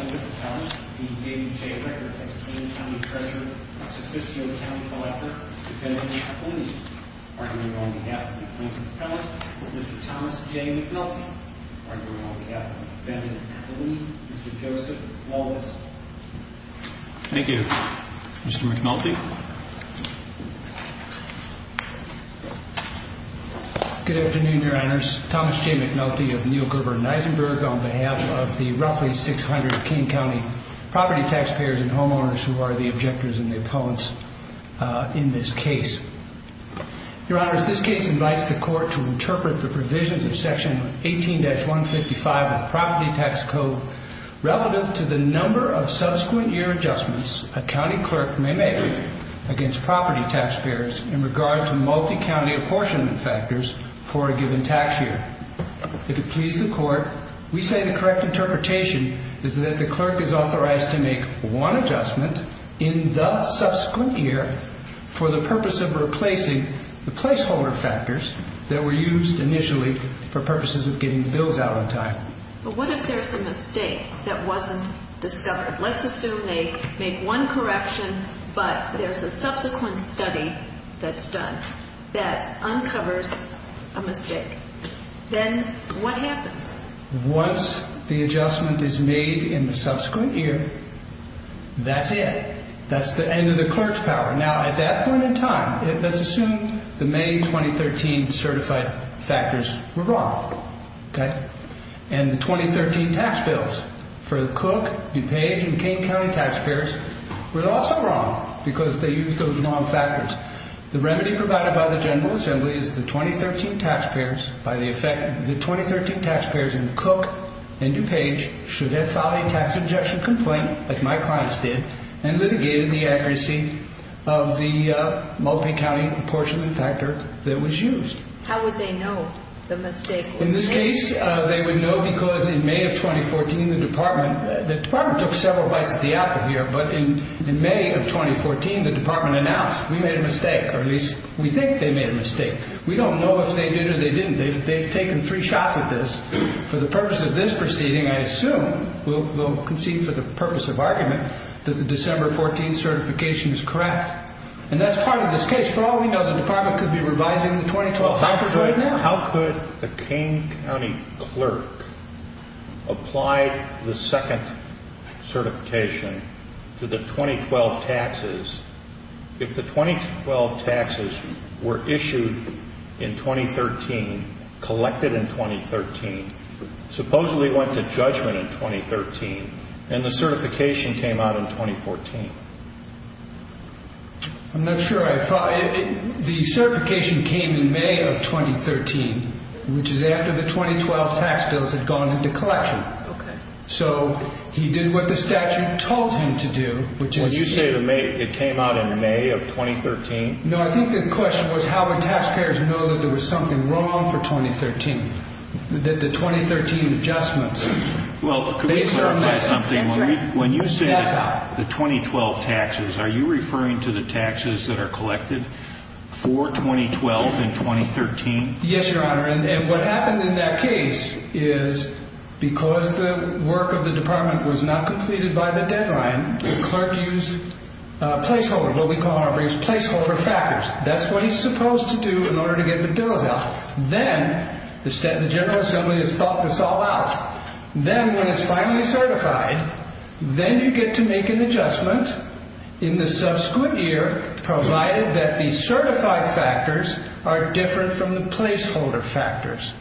v. David J. Rickert, ex-King County Treasurer, ex-Officio County Collector, v. Benjamin Appellini, arguing on behalf of the Appointed Appellant, v. Mr. Thomas J. McNulty, arguing on behalf of the Appellant, v. Benjamin Appellini, v. Mr. Joseph Wallace. Thank you. Mr. McNulty. Good afternoon, Your Honors. Thomas J. McNulty of Neal Gerber and Nisenberg on behalf of the roughly 600 King County property taxpayers and homeowners who are the objectors and the opponents in this case. Your Honors, this case invites the Court to interpret the provisions of Section 18-155 of the Property Tax Code relative to the number of subsequent year adjustments a county clerk may make against property taxpayers in regard to multi-county apportionment factors for a given tax year. In fact, if it please the Court, we say the correct interpretation is that the clerk is authorized to make one adjustment in the subsequent year for the purpose of replacing the placeholder factors that were used initially for purposes of getting bills out on time. But what if there's a mistake that wasn't discovered? Let's assume they make one correction, but there's a subsequent study that's done that uncovers a mistake. Then what happens? Once the adjustment is made in the subsequent year, that's it. That's the end of the clerk's power. Now, at that point in time, let's assume the May 2013 certified factors were wrong. And the 2013 tax bills for Cook, DuPage, and King County taxpayers were also wrong because they used those wrong factors. The remedy provided by the General Assembly is that the 2013 taxpayers in Cook and DuPage should have filed a tax injection complaint, like my clients did, and litigated the accuracy of the multi-county apportionment factor that was used. How would they know the mistake was made? In this case, they would know because in May of 2014, the Department took several bites at the apple here, but in May of 2014, the Department announced, we made a mistake, or at least we think they made a mistake. We don't know if they did or they didn't. They've taken three shots at this. For the purpose of this proceeding, I assume we'll concede for the purpose of argument that the December 14 certification is correct. And that's part of this case. For all we know, the Department could be revising the 2012 factors right now. And how could the King County clerk apply the second certification to the 2012 taxes if the 2012 taxes were issued in 2013, collected in 2013, supposedly went to judgment in 2013, and the certification came out in 2014? I'm not sure. The certification came in May of 2013, which is after the 2012 tax bills had gone into collection. So he did what the statute told him to do, which is... When you say it came out in May of 2013? No, I think the question was how would taxpayers know that there was something wrong for 2013, that the 2013 adjustments... Well, could we clarify something? When you say the 2012 taxes, are you referring to the taxes that are collected for 2012 in 2013? Yes, Your Honor. And what happened in that case is because the work of the Department was not completed by the deadline, the clerk used placeholder, what we call in our briefs placeholder factors. That's what he's supposed to do in order to get the bills out. Then the General Assembly has thought this all out. Then when it's finally certified, then you get to make an adjustment in the subsequent year, provided that the certified factors are different from the placeholder factors.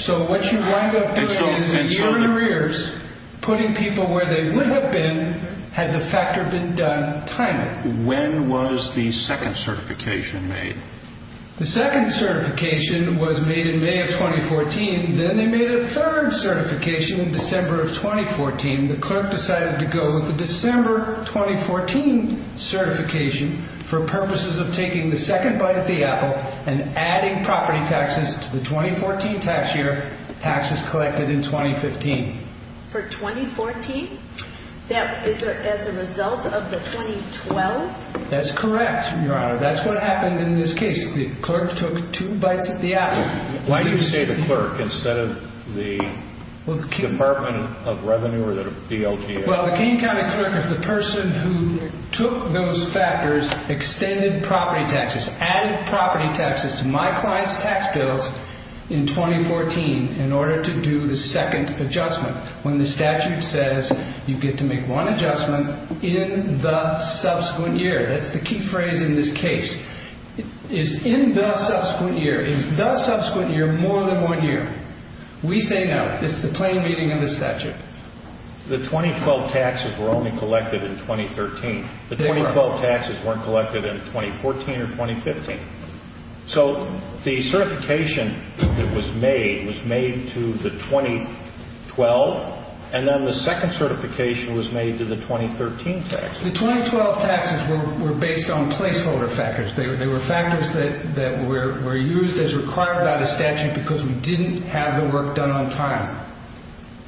So what you wind up doing is ear in your ears, putting people where they would have been had the factor been done timely. When was the second certification made? The second certification was made in May of 2014. Then they made a third certification in December of 2014. The clerk decided to go with the December 2014 certification for purposes of taking the second bite of the apple and adding property taxes to the 2014 tax year, taxes collected in 2015. For 2014? Is that as a result of the 2012? That's correct, Your Honor. That's what happened in this case. The clerk took two bites of the apple. Why do you say the clerk instead of the Department of Revenue or the DLTA? Well, the King County clerk is the person who took those factors, extended property taxes, added property taxes to my client's tax bills in 2014 in order to do the second adjustment. When the statute says you get to make one adjustment in the subsequent year. That's the key phrase in this case. Is in the subsequent year. Is the subsequent year more than one year? We say no. It's the plain reading of the statute. The 2012 taxes were only collected in 2013. The 2012 taxes weren't collected in 2014 or 2015. So the certification that was made was made to the 2012, and then the second certification was made to the 2013 taxes. The 2012 taxes were based on placeholder factors. They were factors that were used as required by the statute because we didn't have the work done on time.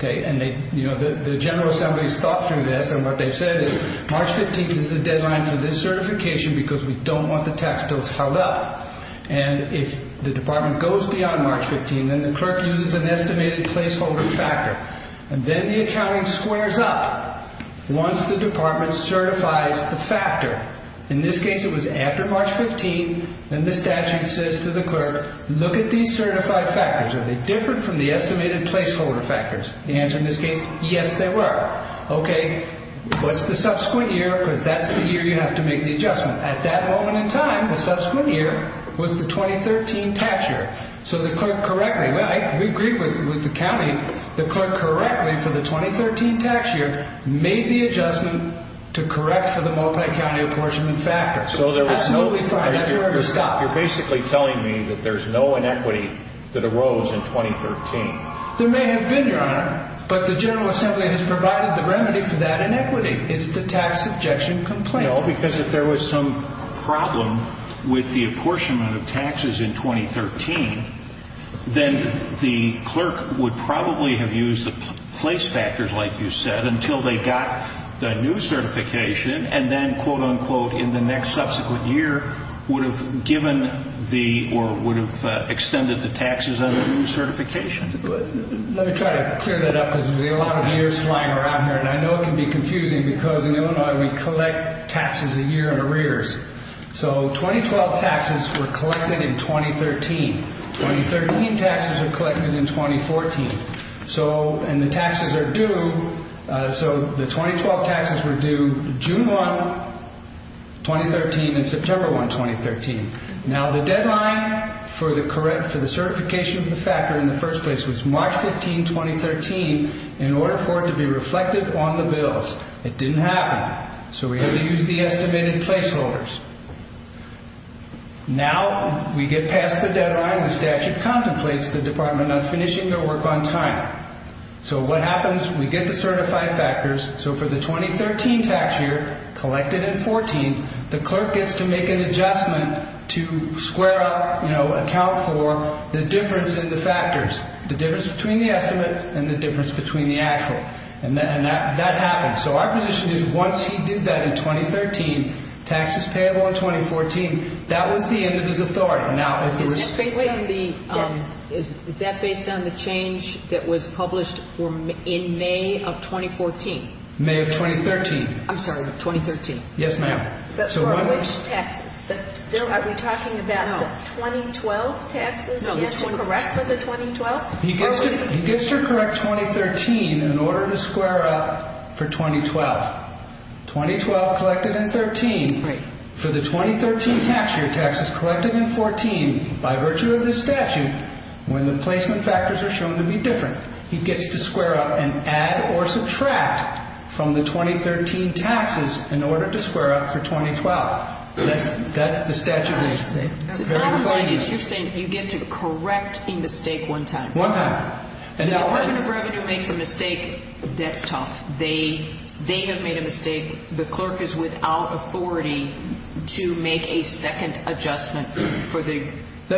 The General Assembly has thought through this, and what they've said is March 15th is the deadline for this certification because we don't want the tax bills held up. If the department goes beyond March 15th, then the clerk uses an estimated placeholder factor, and then the accounting squares up once the department certifies the factor. In this case, it was after March 15th, and the statute says to the clerk, look at these certified factors. Are they different from the estimated placeholder factors? The answer in this case, yes, they were. Okay, what's the subsequent year? Because that's the year you have to make the adjustment. At that moment in time, the subsequent year was the 2013 tax year. So the clerk correctly, well, we agree with the county, the clerk correctly for the 2013 tax year made the adjustment to correct for the multi-county apportionment factor. Absolutely fine. That's your order to stop. You're basically telling me that there's no inequity that arose in 2013. There may have been, Your Honor, but the General Assembly has provided the remedy for that inequity. It's the tax objection complaint. No, because if there was some problem with the apportionment of taxes in 2013, then the clerk would probably have used the place factors, like you said, until they got the new certification, and then, quote, unquote, in the next subsequent year, would have given the, or would have extended the taxes on the new certification. Let me try to clear that up because we have a lot of years flying around here, and I know it can be confusing because in Illinois, we collect taxes a year in arrears. So 2012 taxes were collected in 2013. 2013 taxes were collected in 2014. So, and the taxes are due, so the 2012 taxes were due June 1, 2013, and September 1, 2013. Now, the deadline for the certification of the factor in the first place was March 15, 2013, in order for it to be reflected on the bills. It didn't happen, so we had to use the estimated placeholders. Now, we get past the deadline. The statute contemplates the Department on finishing their work on time. So what happens? We get the certified factors. So for the 2013 tax year, collected in 14, the clerk gets to make an adjustment to square up, you know, account for the difference in the factors, the difference between the estimate and the difference between the actual, and that happens. So our position is once he did that in 2013, taxes payable in 2014, that was the end of his authority. Now, if there was... Is that based on the... Yes. Is that based on the change that was published in May of 2014? May of 2013. I'm sorry, 2013. Yes, ma'am. But for which taxes? Are we talking about the 2012 taxes again to correct for the 2012? He gets to correct 2013 in order to square up for 2012. 2012 collected in 13. Right. For the 2013 tax year, taxes collected in 14 by virtue of this statute, when the placement factors are shown to be different, he gets to square up and add or subtract from the 2013 taxes in order to square up for 2012. That's the statute. I understand. The bottom line is you're saying you get to correct a mistake one time. One time. If the Department of Revenue makes a mistake, that's tough. They have made a mistake. The clerk is without authority to make a second adjustment for the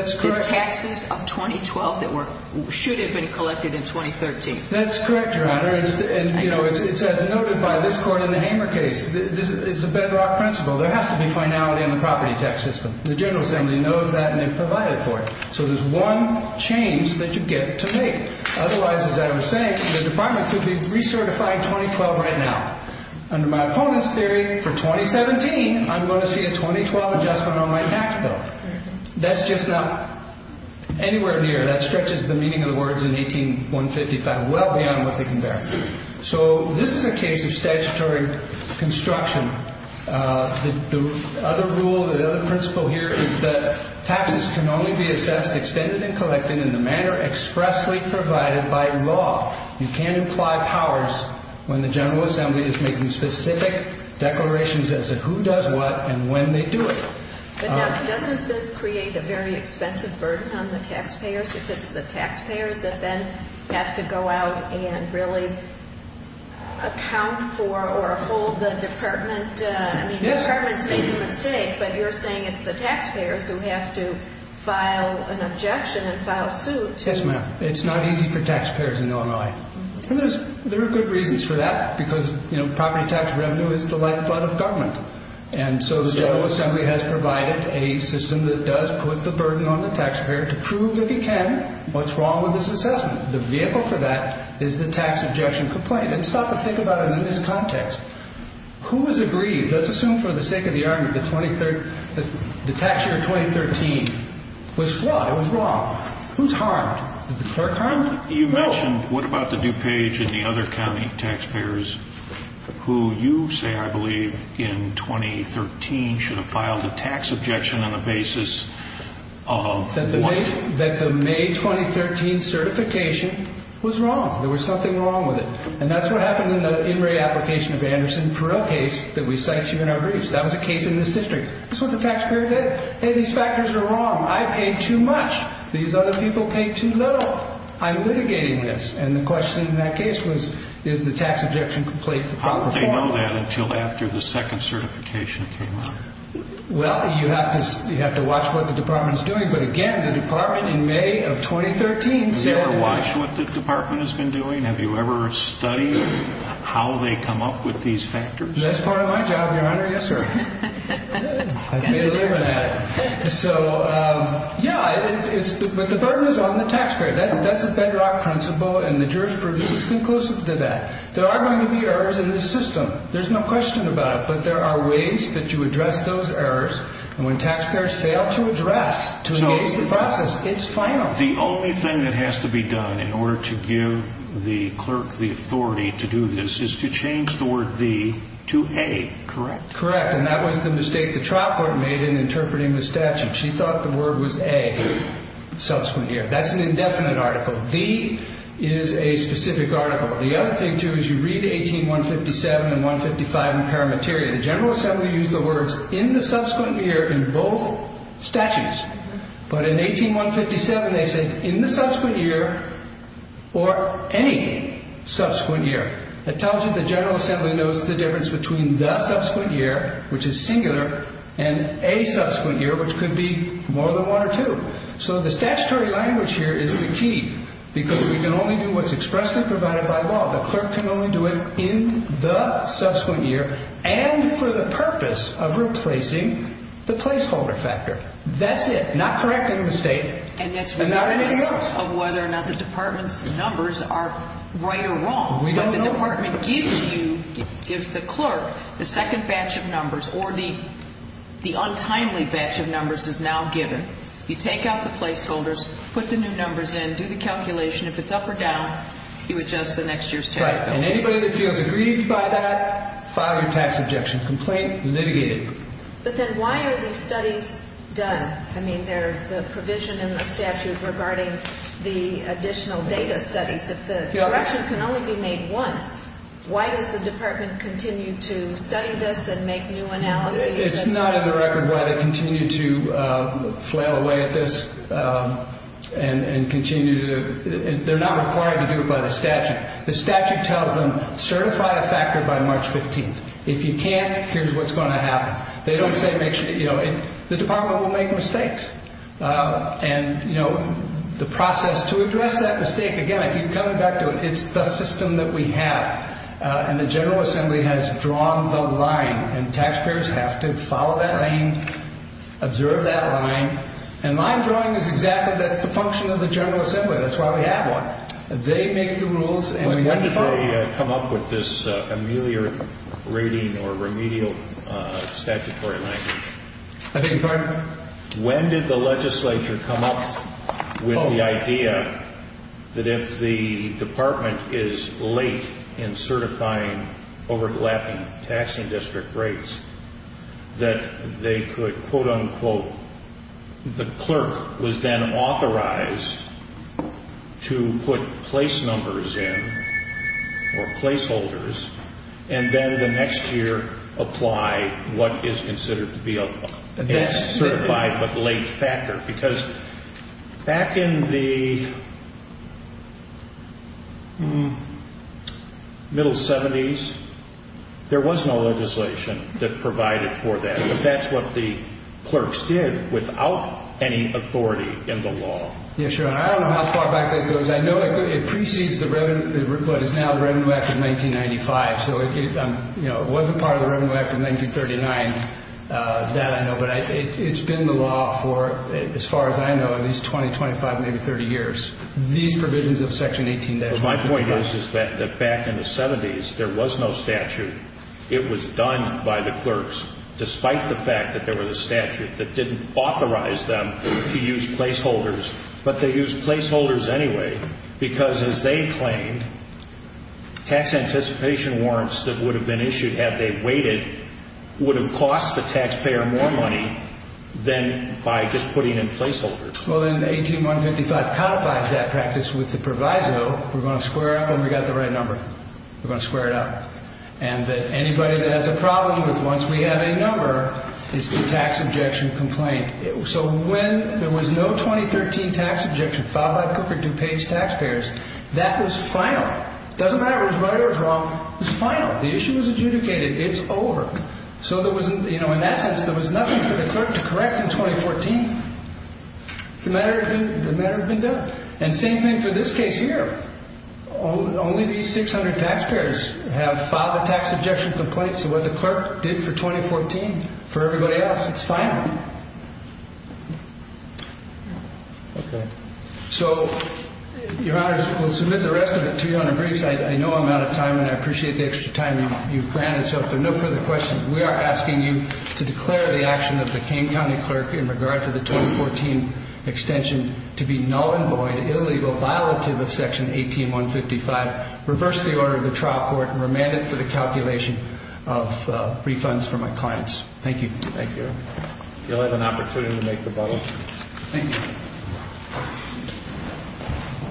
taxes of 2012 that should have been collected in 2013. That's correct, Your Honor. It's as noted by this court in the Hamer case. It's a bedrock principle. There has to be finality in the property tax system. The General Assembly knows that and they've provided for it. So there's one change that you get to make. Otherwise, as I was saying, the Department could be recertifying 2012 right now. Under my opponent's theory, for 2017, I'm going to see a 2012 adjustment on my tax bill. That's just not anywhere near. That stretches the meaning of the words in 18-155 well beyond what they can bear. So this is a case of statutory construction. The other rule, the other principle here is that taxes can only be assessed, extended, and collected in the manner expressly provided by law. You can't apply powers when the General Assembly is making specific declarations as to who does what and when they do it. Now, doesn't this create a very expensive burden on the taxpayers if it's the taxpayers that then have to go out and really account for or hold the Department? I mean, the Department's made a mistake, but you're saying it's the taxpayers who have to file an objection and file suit. Yes, ma'am. It's not easy for taxpayers in Illinois. And there are good reasons for that because property tax revenue is the lifeblood of government. And so the General Assembly has provided a system that does put the burden on the taxpayer to prove, if it can, what's wrong with this assessment. The vehicle for that is the tax objection complaint. And stop and think about it in this context. Who was aggrieved? Let's assume for the sake of the argument that the tax year 2013 was flawed, it was wrong. Who's harmed? Is the clerk harmed? You mentioned what about the DuPage and the other county taxpayers who you say, I believe, in 2013 should have filed a tax objection on the basis of what? That the May 2013 certification was wrong. There was something wrong with it. And that's what happened in the in-ray application of Anderson for a case that we cite here in our briefs. That was a case in this district. That's what the taxpayer did. Hey, these factors are wrong. I paid too much. These other people paid too little. I'm litigating this. And the question in that case was, is the tax objection complete? How would they know that until after the second certification came out? Well, you have to you have to watch what the department is doing. But again, the department in May of 2013. Have you ever watched what the department has been doing? Have you ever studied how they come up with these factors? That's part of my job, Your Honor. Yes, sir. So, yeah, it's but the burden is on the taxpayer. That's a bedrock principle. And the jurors prove this is conclusive to that. There are going to be errors in the system. There's no question about it. But there are ways that you address those errors. And when taxpayers fail to address, to engage the process, it's final. The only thing that has to be done in order to give the clerk the authority to do this is to change the word V to A, correct? Correct. And that was the mistake the trial court made in interpreting the statute. She thought the word was a subsequent year. That's an indefinite article. V is a specific article. The other thing, too, is you read 18157 and 155 in Paramateria. The General Assembly used the words in the subsequent year in both statutes. But in 18157, they said in the subsequent year or any subsequent year. That tells you the General Assembly knows the difference between the subsequent year, which is singular, and a subsequent year, which could be more than one or two. So the statutory language here is the key because we can only do what's expressly provided by law. The clerk can only do it in the subsequent year and for the purpose of replacing the placeholder factor. That's it. Not correcting the mistake. And that's regardless of whether or not the department's numbers are right or wrong. But the department gives you, gives the clerk, the second batch of numbers or the untimely batch of numbers is now given. You take out the placeholders, put the new numbers in, do the calculation. If it's up or down, you adjust the next year's tax bill. And anybody that feels aggrieved by that, file your tax objection complaint, litigate it. But then why are these studies done? I mean, they're the provision in the statute regarding the additional data studies. If the correction can only be made once, why does the department continue to study this and make new analyses? It's not in the record why they continue to flail away at this and continue to, they're not required to do it by the statute. The statute tells them certify a factor by March 15th. If you can't, here's what's going to happen. They don't say make sure, you know, the department will make mistakes. And, you know, the process to address that mistake, again, I keep coming back to it, it's the system that we have. And the General Assembly has drawn the line, and taxpayers have to follow that line, observe that line. And line drawing is exactly, that's the function of the General Assembly, that's why we have one. They make the rules, and we have to follow them. When did they come up with this ameliorating or remedial statutory language? I beg your pardon? When did the legislature come up with the idea that if the department is late in certifying overlapping taxing district rates, that they could, quote unquote, the clerk was then authorized to put place numbers in, or placeholders, and then the next year apply what is considered to be a certified but late factor. Because back in the middle 70s, there was no legislation that provided for that. But that's what the clerks did without any authority in the law. Yes, Your Honor, I don't know how far back that goes. I know it precedes what is now the Revenue Act of 1995. So it wasn't part of the Revenue Act of 1939, that I know. But it's been the law for, as far as I know, at least 20, 25, maybe 30 years. These provisions of Section 18- My point is that back in the 70s, there was no statute. It was done by the clerks, despite the fact that there was a statute that didn't authorize them to use placeholders. But they used placeholders anyway because, as they claimed, tax anticipation warrants that would have been issued had they waited would have cost the taxpayer more money than by just putting in placeholders. Well, then 18-155 codifies that practice with the proviso. We're going to square up, and we've got the right number. We're going to square it up. And that anybody that has a problem with once we have a number is the tax objection complaint. So when there was no 2013 tax objection filed by Cooper DuPage taxpayers, that was final. It doesn't matter if it was right or it was wrong. It was final. The issue was adjudicated. It's over. So there was, you know, in that sense, there was nothing for the clerk to correct in 2014. The matter had been done. And same thing for this case here. Only these 600 taxpayers have filed a tax objection complaint. So what the clerk did for 2014, for everybody else, it's final. So, Your Honor, we'll submit the rest of it to you on a brief site. I know I'm out of time, and I appreciate the extra time you've granted. So if there are no further questions, we are asking you to declare the action of the King County clerk in regard to the 2014 extension to be null and void, illegal, violative of Section 18155, reverse the order of the trial court, and remand it for the calculation of refunds for my clients. Thank you. Thank you. You'll have an opportunity to make rebuttal. Thank you.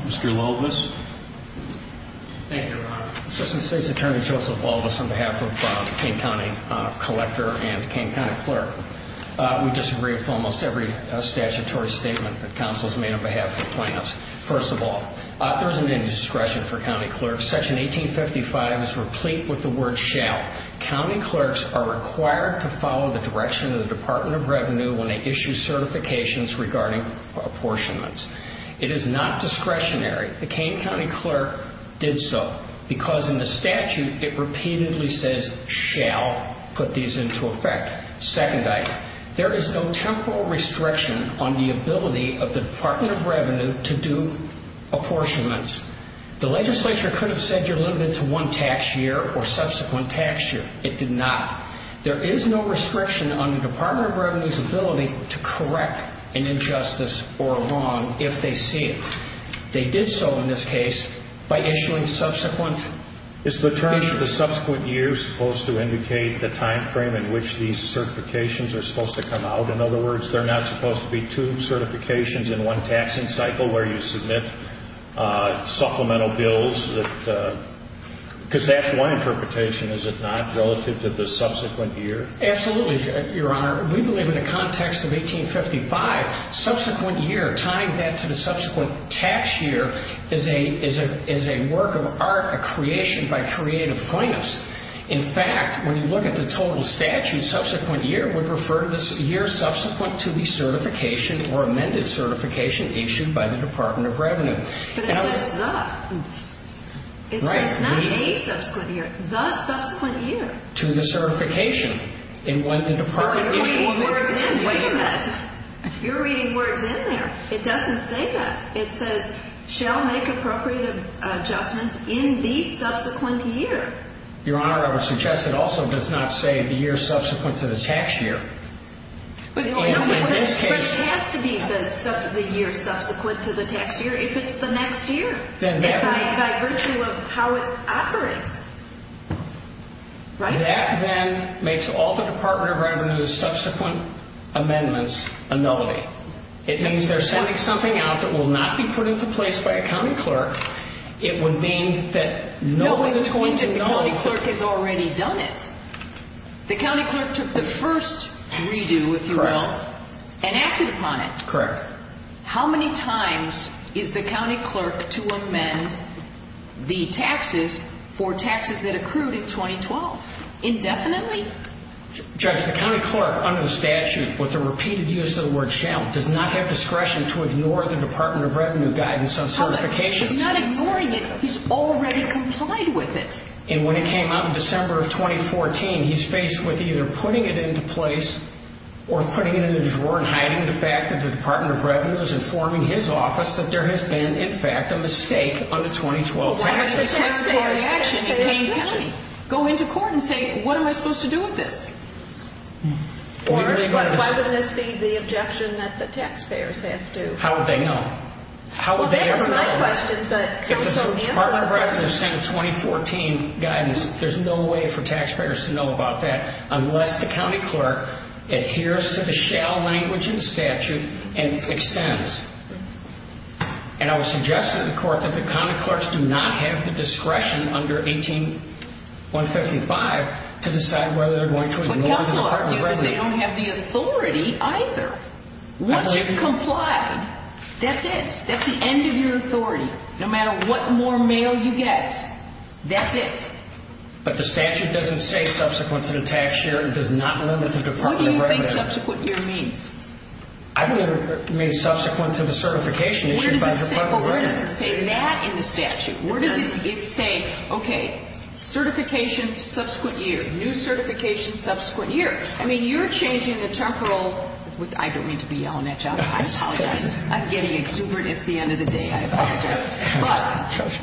Mr. Walvis. Thank you, Your Honor. Assistant State's Attorney Joseph Walvis on behalf of King County Collector and King County Clerk. We disagree with almost every statutory statement that counsels made on behalf of the plaintiffs. First of all, there isn't any discretion for county clerks. Section 1855 is replete with the word shall. County clerks are required to follow the direction of the Department of Revenue when they issue certifications regarding apportionments. It is not discretionary. The King County clerk did so because in the statute it repeatedly says shall put these into effect. Second item, there is no temporal restriction on the ability of the Department of Revenue to do apportionments. The legislature could have said you're limited to one tax year or subsequent tax year. It did not. There is no restriction on the Department of Revenue's ability to correct an injustice or wrong if they see it. They did so in this case by issuing subsequent. Is the term subsequent year supposed to indicate the time frame in which these certifications are supposed to come out? In other words, they're not supposed to be two certifications in one taxing cycle where you submit supplemental bills? Because that's one interpretation, is it not, relative to the subsequent year? Absolutely, Your Honor. We believe in the context of 1855, subsequent year, tying that to the subsequent tax year is a work of art, a creation by creative plaintiffs. In fact, when you look at the total statute, subsequent year would refer to the year subsequent to the certification or amended certification issued by the Department of Revenue. But it says the. It's not a subsequent year, the subsequent year. To the certification. You're reading words in there. It doesn't say that. It says shall make appropriate adjustments in the subsequent year. Your Honor, I would suggest it also does not say the year subsequent to the tax year. But it has to be the year subsequent to the tax year if it's the next year. By virtue of how it operates. That then makes all the Department of Revenue's subsequent amendments a nullity. It means they're sending something out that will not be put into place by a county clerk. It would mean that no one is going to know. The county clerk has already done it. The county clerk took the first redo, if you will, and acted upon it. Correct. How many times is the county clerk to amend the taxes for taxes that accrued in 2012? Indefinitely? Judge, the county clerk under the statute with the repeated use of the word shall does not have discretion to ignore the Department of Revenue guidance on certification. He's not ignoring it. He's already complied with it. And when it came out in December of 2014, he's faced with either putting it into place or putting it in a drawer and hiding the fact that the Department of Revenue is informing his office that there has been, in fact, a mistake under 2012. Why would a taxpayer's taxpayer's action go into court and say, what am I supposed to do with this? Why would this be the objection that the taxpayers have to? How would they know? Well, that was my question, but counsel, answer the question. If it's a Department of Revenue Senate 2014 guidance, there's no way for taxpayers to know about that unless the county clerk adheres to the shall language in the statute and extends. And I would suggest to the court that the county clerks do not have the discretion under 18155 to decide whether they're going to ignore the Department of Revenue. But counsel, you said they don't have the authority either. Once you've complied. That's it. That's the end of your authority. No matter what more mail you get. That's it. But the statute doesn't say subsequent to the tax year and does not limit the Department of Revenue. What do you think subsequent year means? I believe it means subsequent to the certification issued by the Department of Revenue. Where does it say that in the statute? Where does it say, okay, certification subsequent year, new certification subsequent year? I mean, you're changing the temporal. I don't mean to be yelling at you. I apologize. I'm getting exuberant. It's the end of the day. I apologize.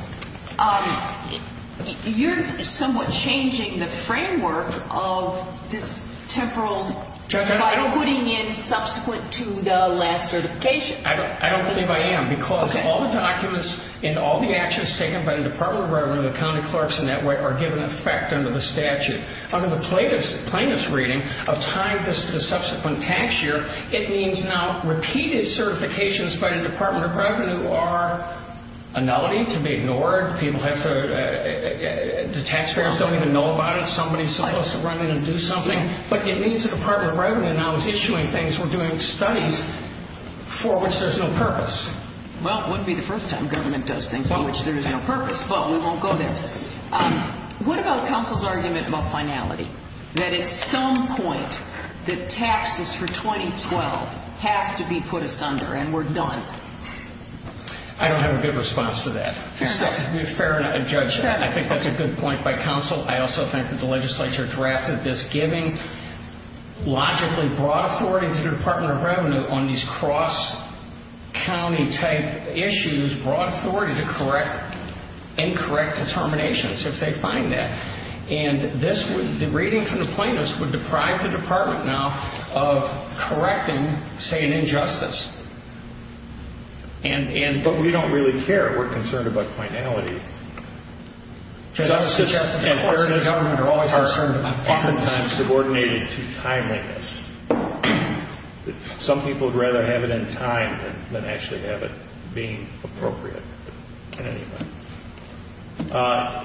But you're somewhat changing the framework of this temporal by putting in subsequent to the last certification. I don't believe I am because all the documents and all the actions taken by the Department of Revenue, the county clerks and that way are given effect under the statute. Under the plaintiff's reading of tying this to the subsequent tax year, it means now repeated certifications by the Department of Revenue are a nullity to be ignored. People have to – the taxpayers don't even know about it. Somebody is supposed to run in and do something. But it means the Department of Revenue now is issuing things. We're doing studies for which there's no purpose. Well, it wouldn't be the first time government does things for which there is no purpose, but we won't go there. What about counsel's argument about finality, that at some point the taxes for 2012 have to be put asunder and we're done? I don't have a good response to that. Fair enough. Fair enough, Judge. I think that's a good point by counsel. I also think that the legislature drafted this, giving logically broad authority to the Department of Revenue on these cross-county type issues, broad authority to correct incorrect determinations if they find that. And this would – the reading from the plaintiffs would deprive the Department now of correcting, say, an injustice. But we don't really care. We're concerned about finality. Justice and fairness are oftentimes subordinated to timeliness. Some people would rather have it in time than actually have it being appropriate in any way.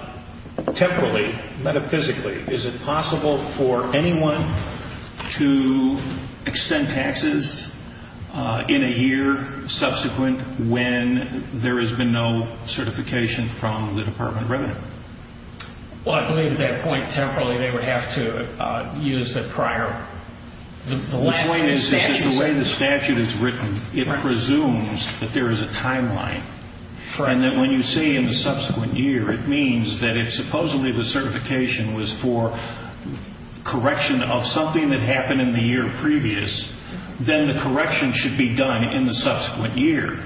Temporally, metaphysically, is it possible for anyone to extend taxes in a year subsequent when there has been no certification from the Department of Revenue? Well, I believe at that point, temporarily, they would have to use the prior. The point is that the way the statute is written, it presumes that there is a timeline. And that when you say in the subsequent year, it means that if supposedly the certification was for correction of something that happened in the year previous, then the correction should be done in the subsequent year.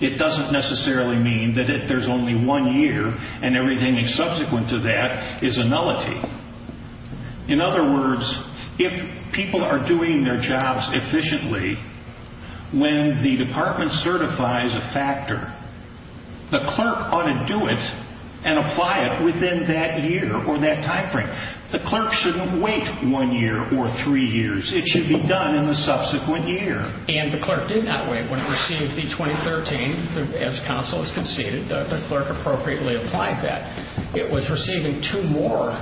It doesn't necessarily mean that if there's only one year and everything subsequent to that is a nullity. In other words, if people are doing their jobs efficiently, when the Department certifies a factor, the clerk ought to do it and apply it within that year or that time frame. The clerk shouldn't wait one year or three years. It should be done in the subsequent year. And the clerk did not wait. When it received the 2013, as counsel has conceded, the clerk appropriately applied that. It was receiving two more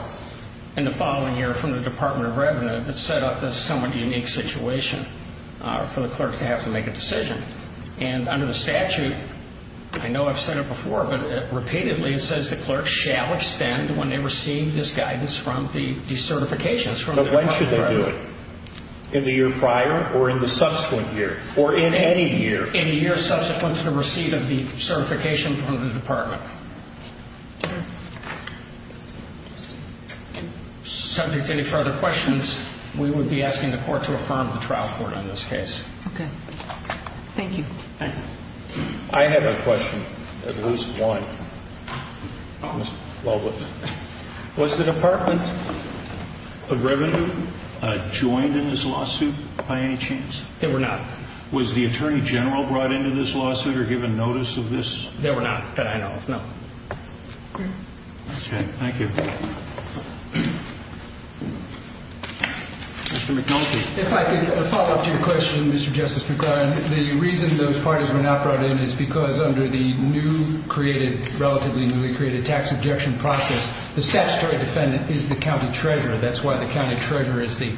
in the following year from the Department of Revenue that set up this somewhat unique situation for the clerk to have to make a decision. And under the statute, I know I've said it before, but repeatedly it says the clerk shall extend when they receive this guidance from the certifications from the Department of Revenue. In the year prior or in the subsequent year or in any year. In the year subsequent to the receipt of the certification from the Department. Subject to any further questions, we would be asking the court to affirm the trial court on this case. Thank you. Thank you. I have a question. At least one. Was the Department of Revenue joined in this lawsuit by any chance? They were not. Was the Attorney General brought into this lawsuit or given notice of this? They were not, that I know of, no. Okay, thank you. Mr. McNulty. If I could follow up to your question, Mr. Justice McClaren. The reason those parties were not brought in is because under the relatively newly created tax objection process, the statutory defendant is the county treasurer. That's why the county treasurer is the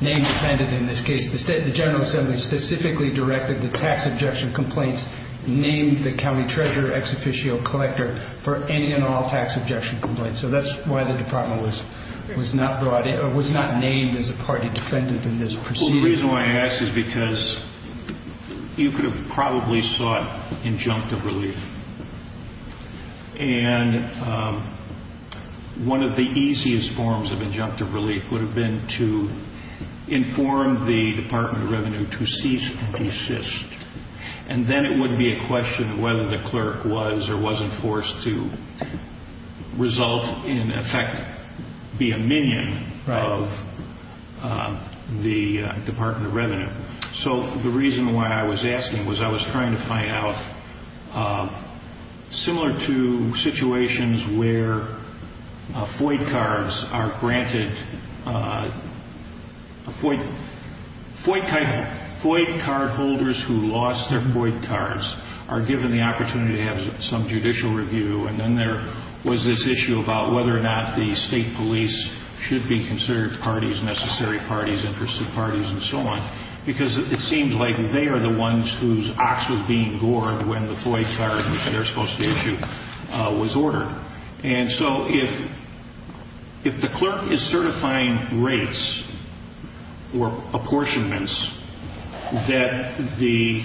name defendant in this case. The General Assembly specifically directed the tax objection complaints named the county treasurer ex officio collector for any and all tax objection complaints. That's why the Department was not brought in or was not named as a party defendant in this proceeding. The reason why I ask is because you could have probably sought injunctive relief. One of the easiest forms of injunctive relief would have been to inform the Department of Revenue to cease and desist. And then it would be a question of whether the clerk was or wasn't forced to result in effect be a minion of the Department of Revenue. So the reason why I was asking was I was trying to find out, similar to situations where FOID cards are granted, FOID card holders who lost their FOID cards are given the opportunity to have some judicial review. And then there was this issue about whether or not the state police should be considered parties, necessary parties, interested parties, and so on. Because it seems like they are the ones whose ox was being gored when the FOID card they're supposed to issue was ordered. And so if the clerk is certifying rates or apportionments that the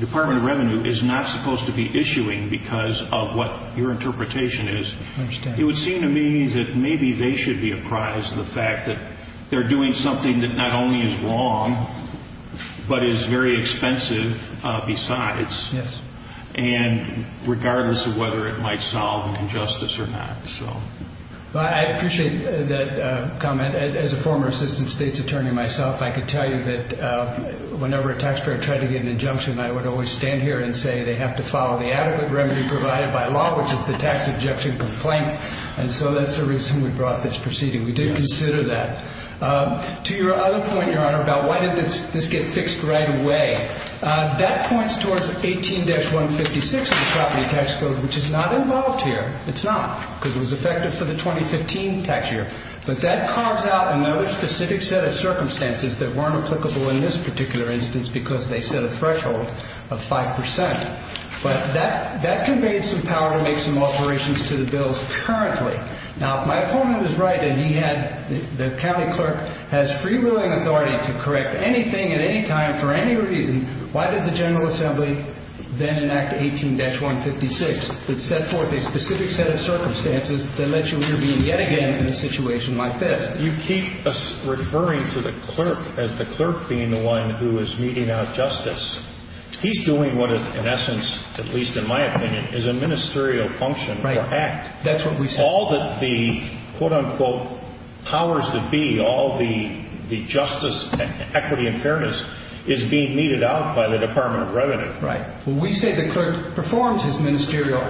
Department of Revenue is not supposed to be issuing because of what your interpretation is, it would seem to me that maybe they should be apprised of the fact that they're doing something that not only is wrong but is very expensive besides. And regardless of whether it might solve an injustice or not. I appreciate that comment. As a former assistant state's attorney myself, I could tell you that whenever a taxpayer tried to get an injunction, I would always stand here and say they have to follow the adequate remedy provided by law, which is the tax ejection complaint. And so that's the reason we brought this proceeding. We did consider that. To your other point, Your Honor, about why did this get fixed right away? That points towards 18-156 of the property tax code, which is not involved here. It's not. Because it was effective for the 2015 tax year. But that carves out another specific set of circumstances that weren't applicable in this particular instance because they set a threshold of 5%. But that conveyed some power to make some alterations to the bills currently. Now, if my opponent was right and he had, the county clerk, has free will and authority to correct anything at any time for any reason, why did the General Assembly then enact 18-156 that set forth a specific set of circumstances that let you intervene yet again in a situation like this? You keep referring to the clerk as the clerk being the one who is meeting out justice. He's doing what, in essence, at least in my opinion, is a ministerial function or act. That's what we say. All that the, quote-unquote, powers that be, all the justice, equity, and fairness is being meted out by the Department of Revenue. Right. Well, we say the clerk performed his ministerial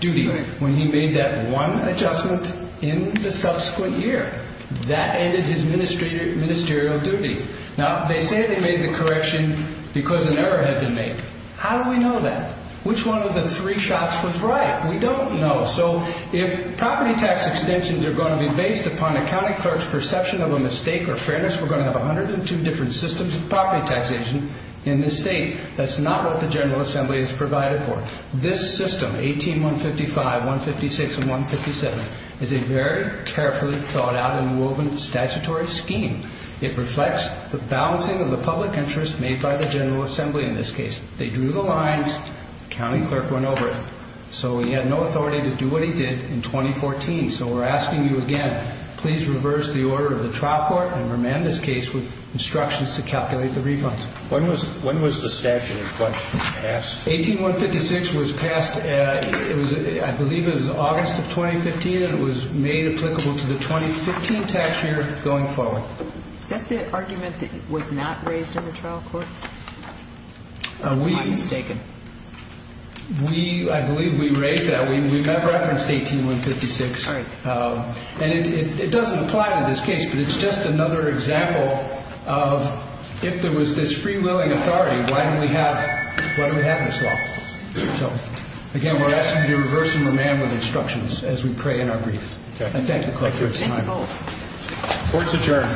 duty when he made that one adjustment in the subsequent year. That ended his ministerial duty. Now, they say they made the correction because an error had been made. How do we know that? Which one of the three shots was right? We don't know. So if property tax extensions are going to be based upon a county clerk's perception of a mistake or fairness, we're going to have 102 different systems of property taxation in this state. That's not what the General Assembly is provided for. This system, 18-155, 156, and 157, is a very carefully thought out and woven statutory scheme. It reflects the balancing of the public interest made by the General Assembly in this case. They drew the lines. The county clerk went over it. So he had no authority to do what he did in 2014. So we're asking you again, please reverse the order of the trial court and remand this case with instructions to calculate the refunds. When was the statute in question passed? 18-156 was passed, I believe it was August of 2015, and it was made applicable to the 2015 tax year going forward. Is that the argument that was not raised in the trial court? Am I mistaken? I believe we raised that. We referenced 18-156. And it doesn't apply to this case, but it's just another example of if there was this free-willing authority, why don't we have this law? So, again, we're asking you to reverse and remand with instructions as we pray in our grief. I thank the clerk for his time. Court's adjourned.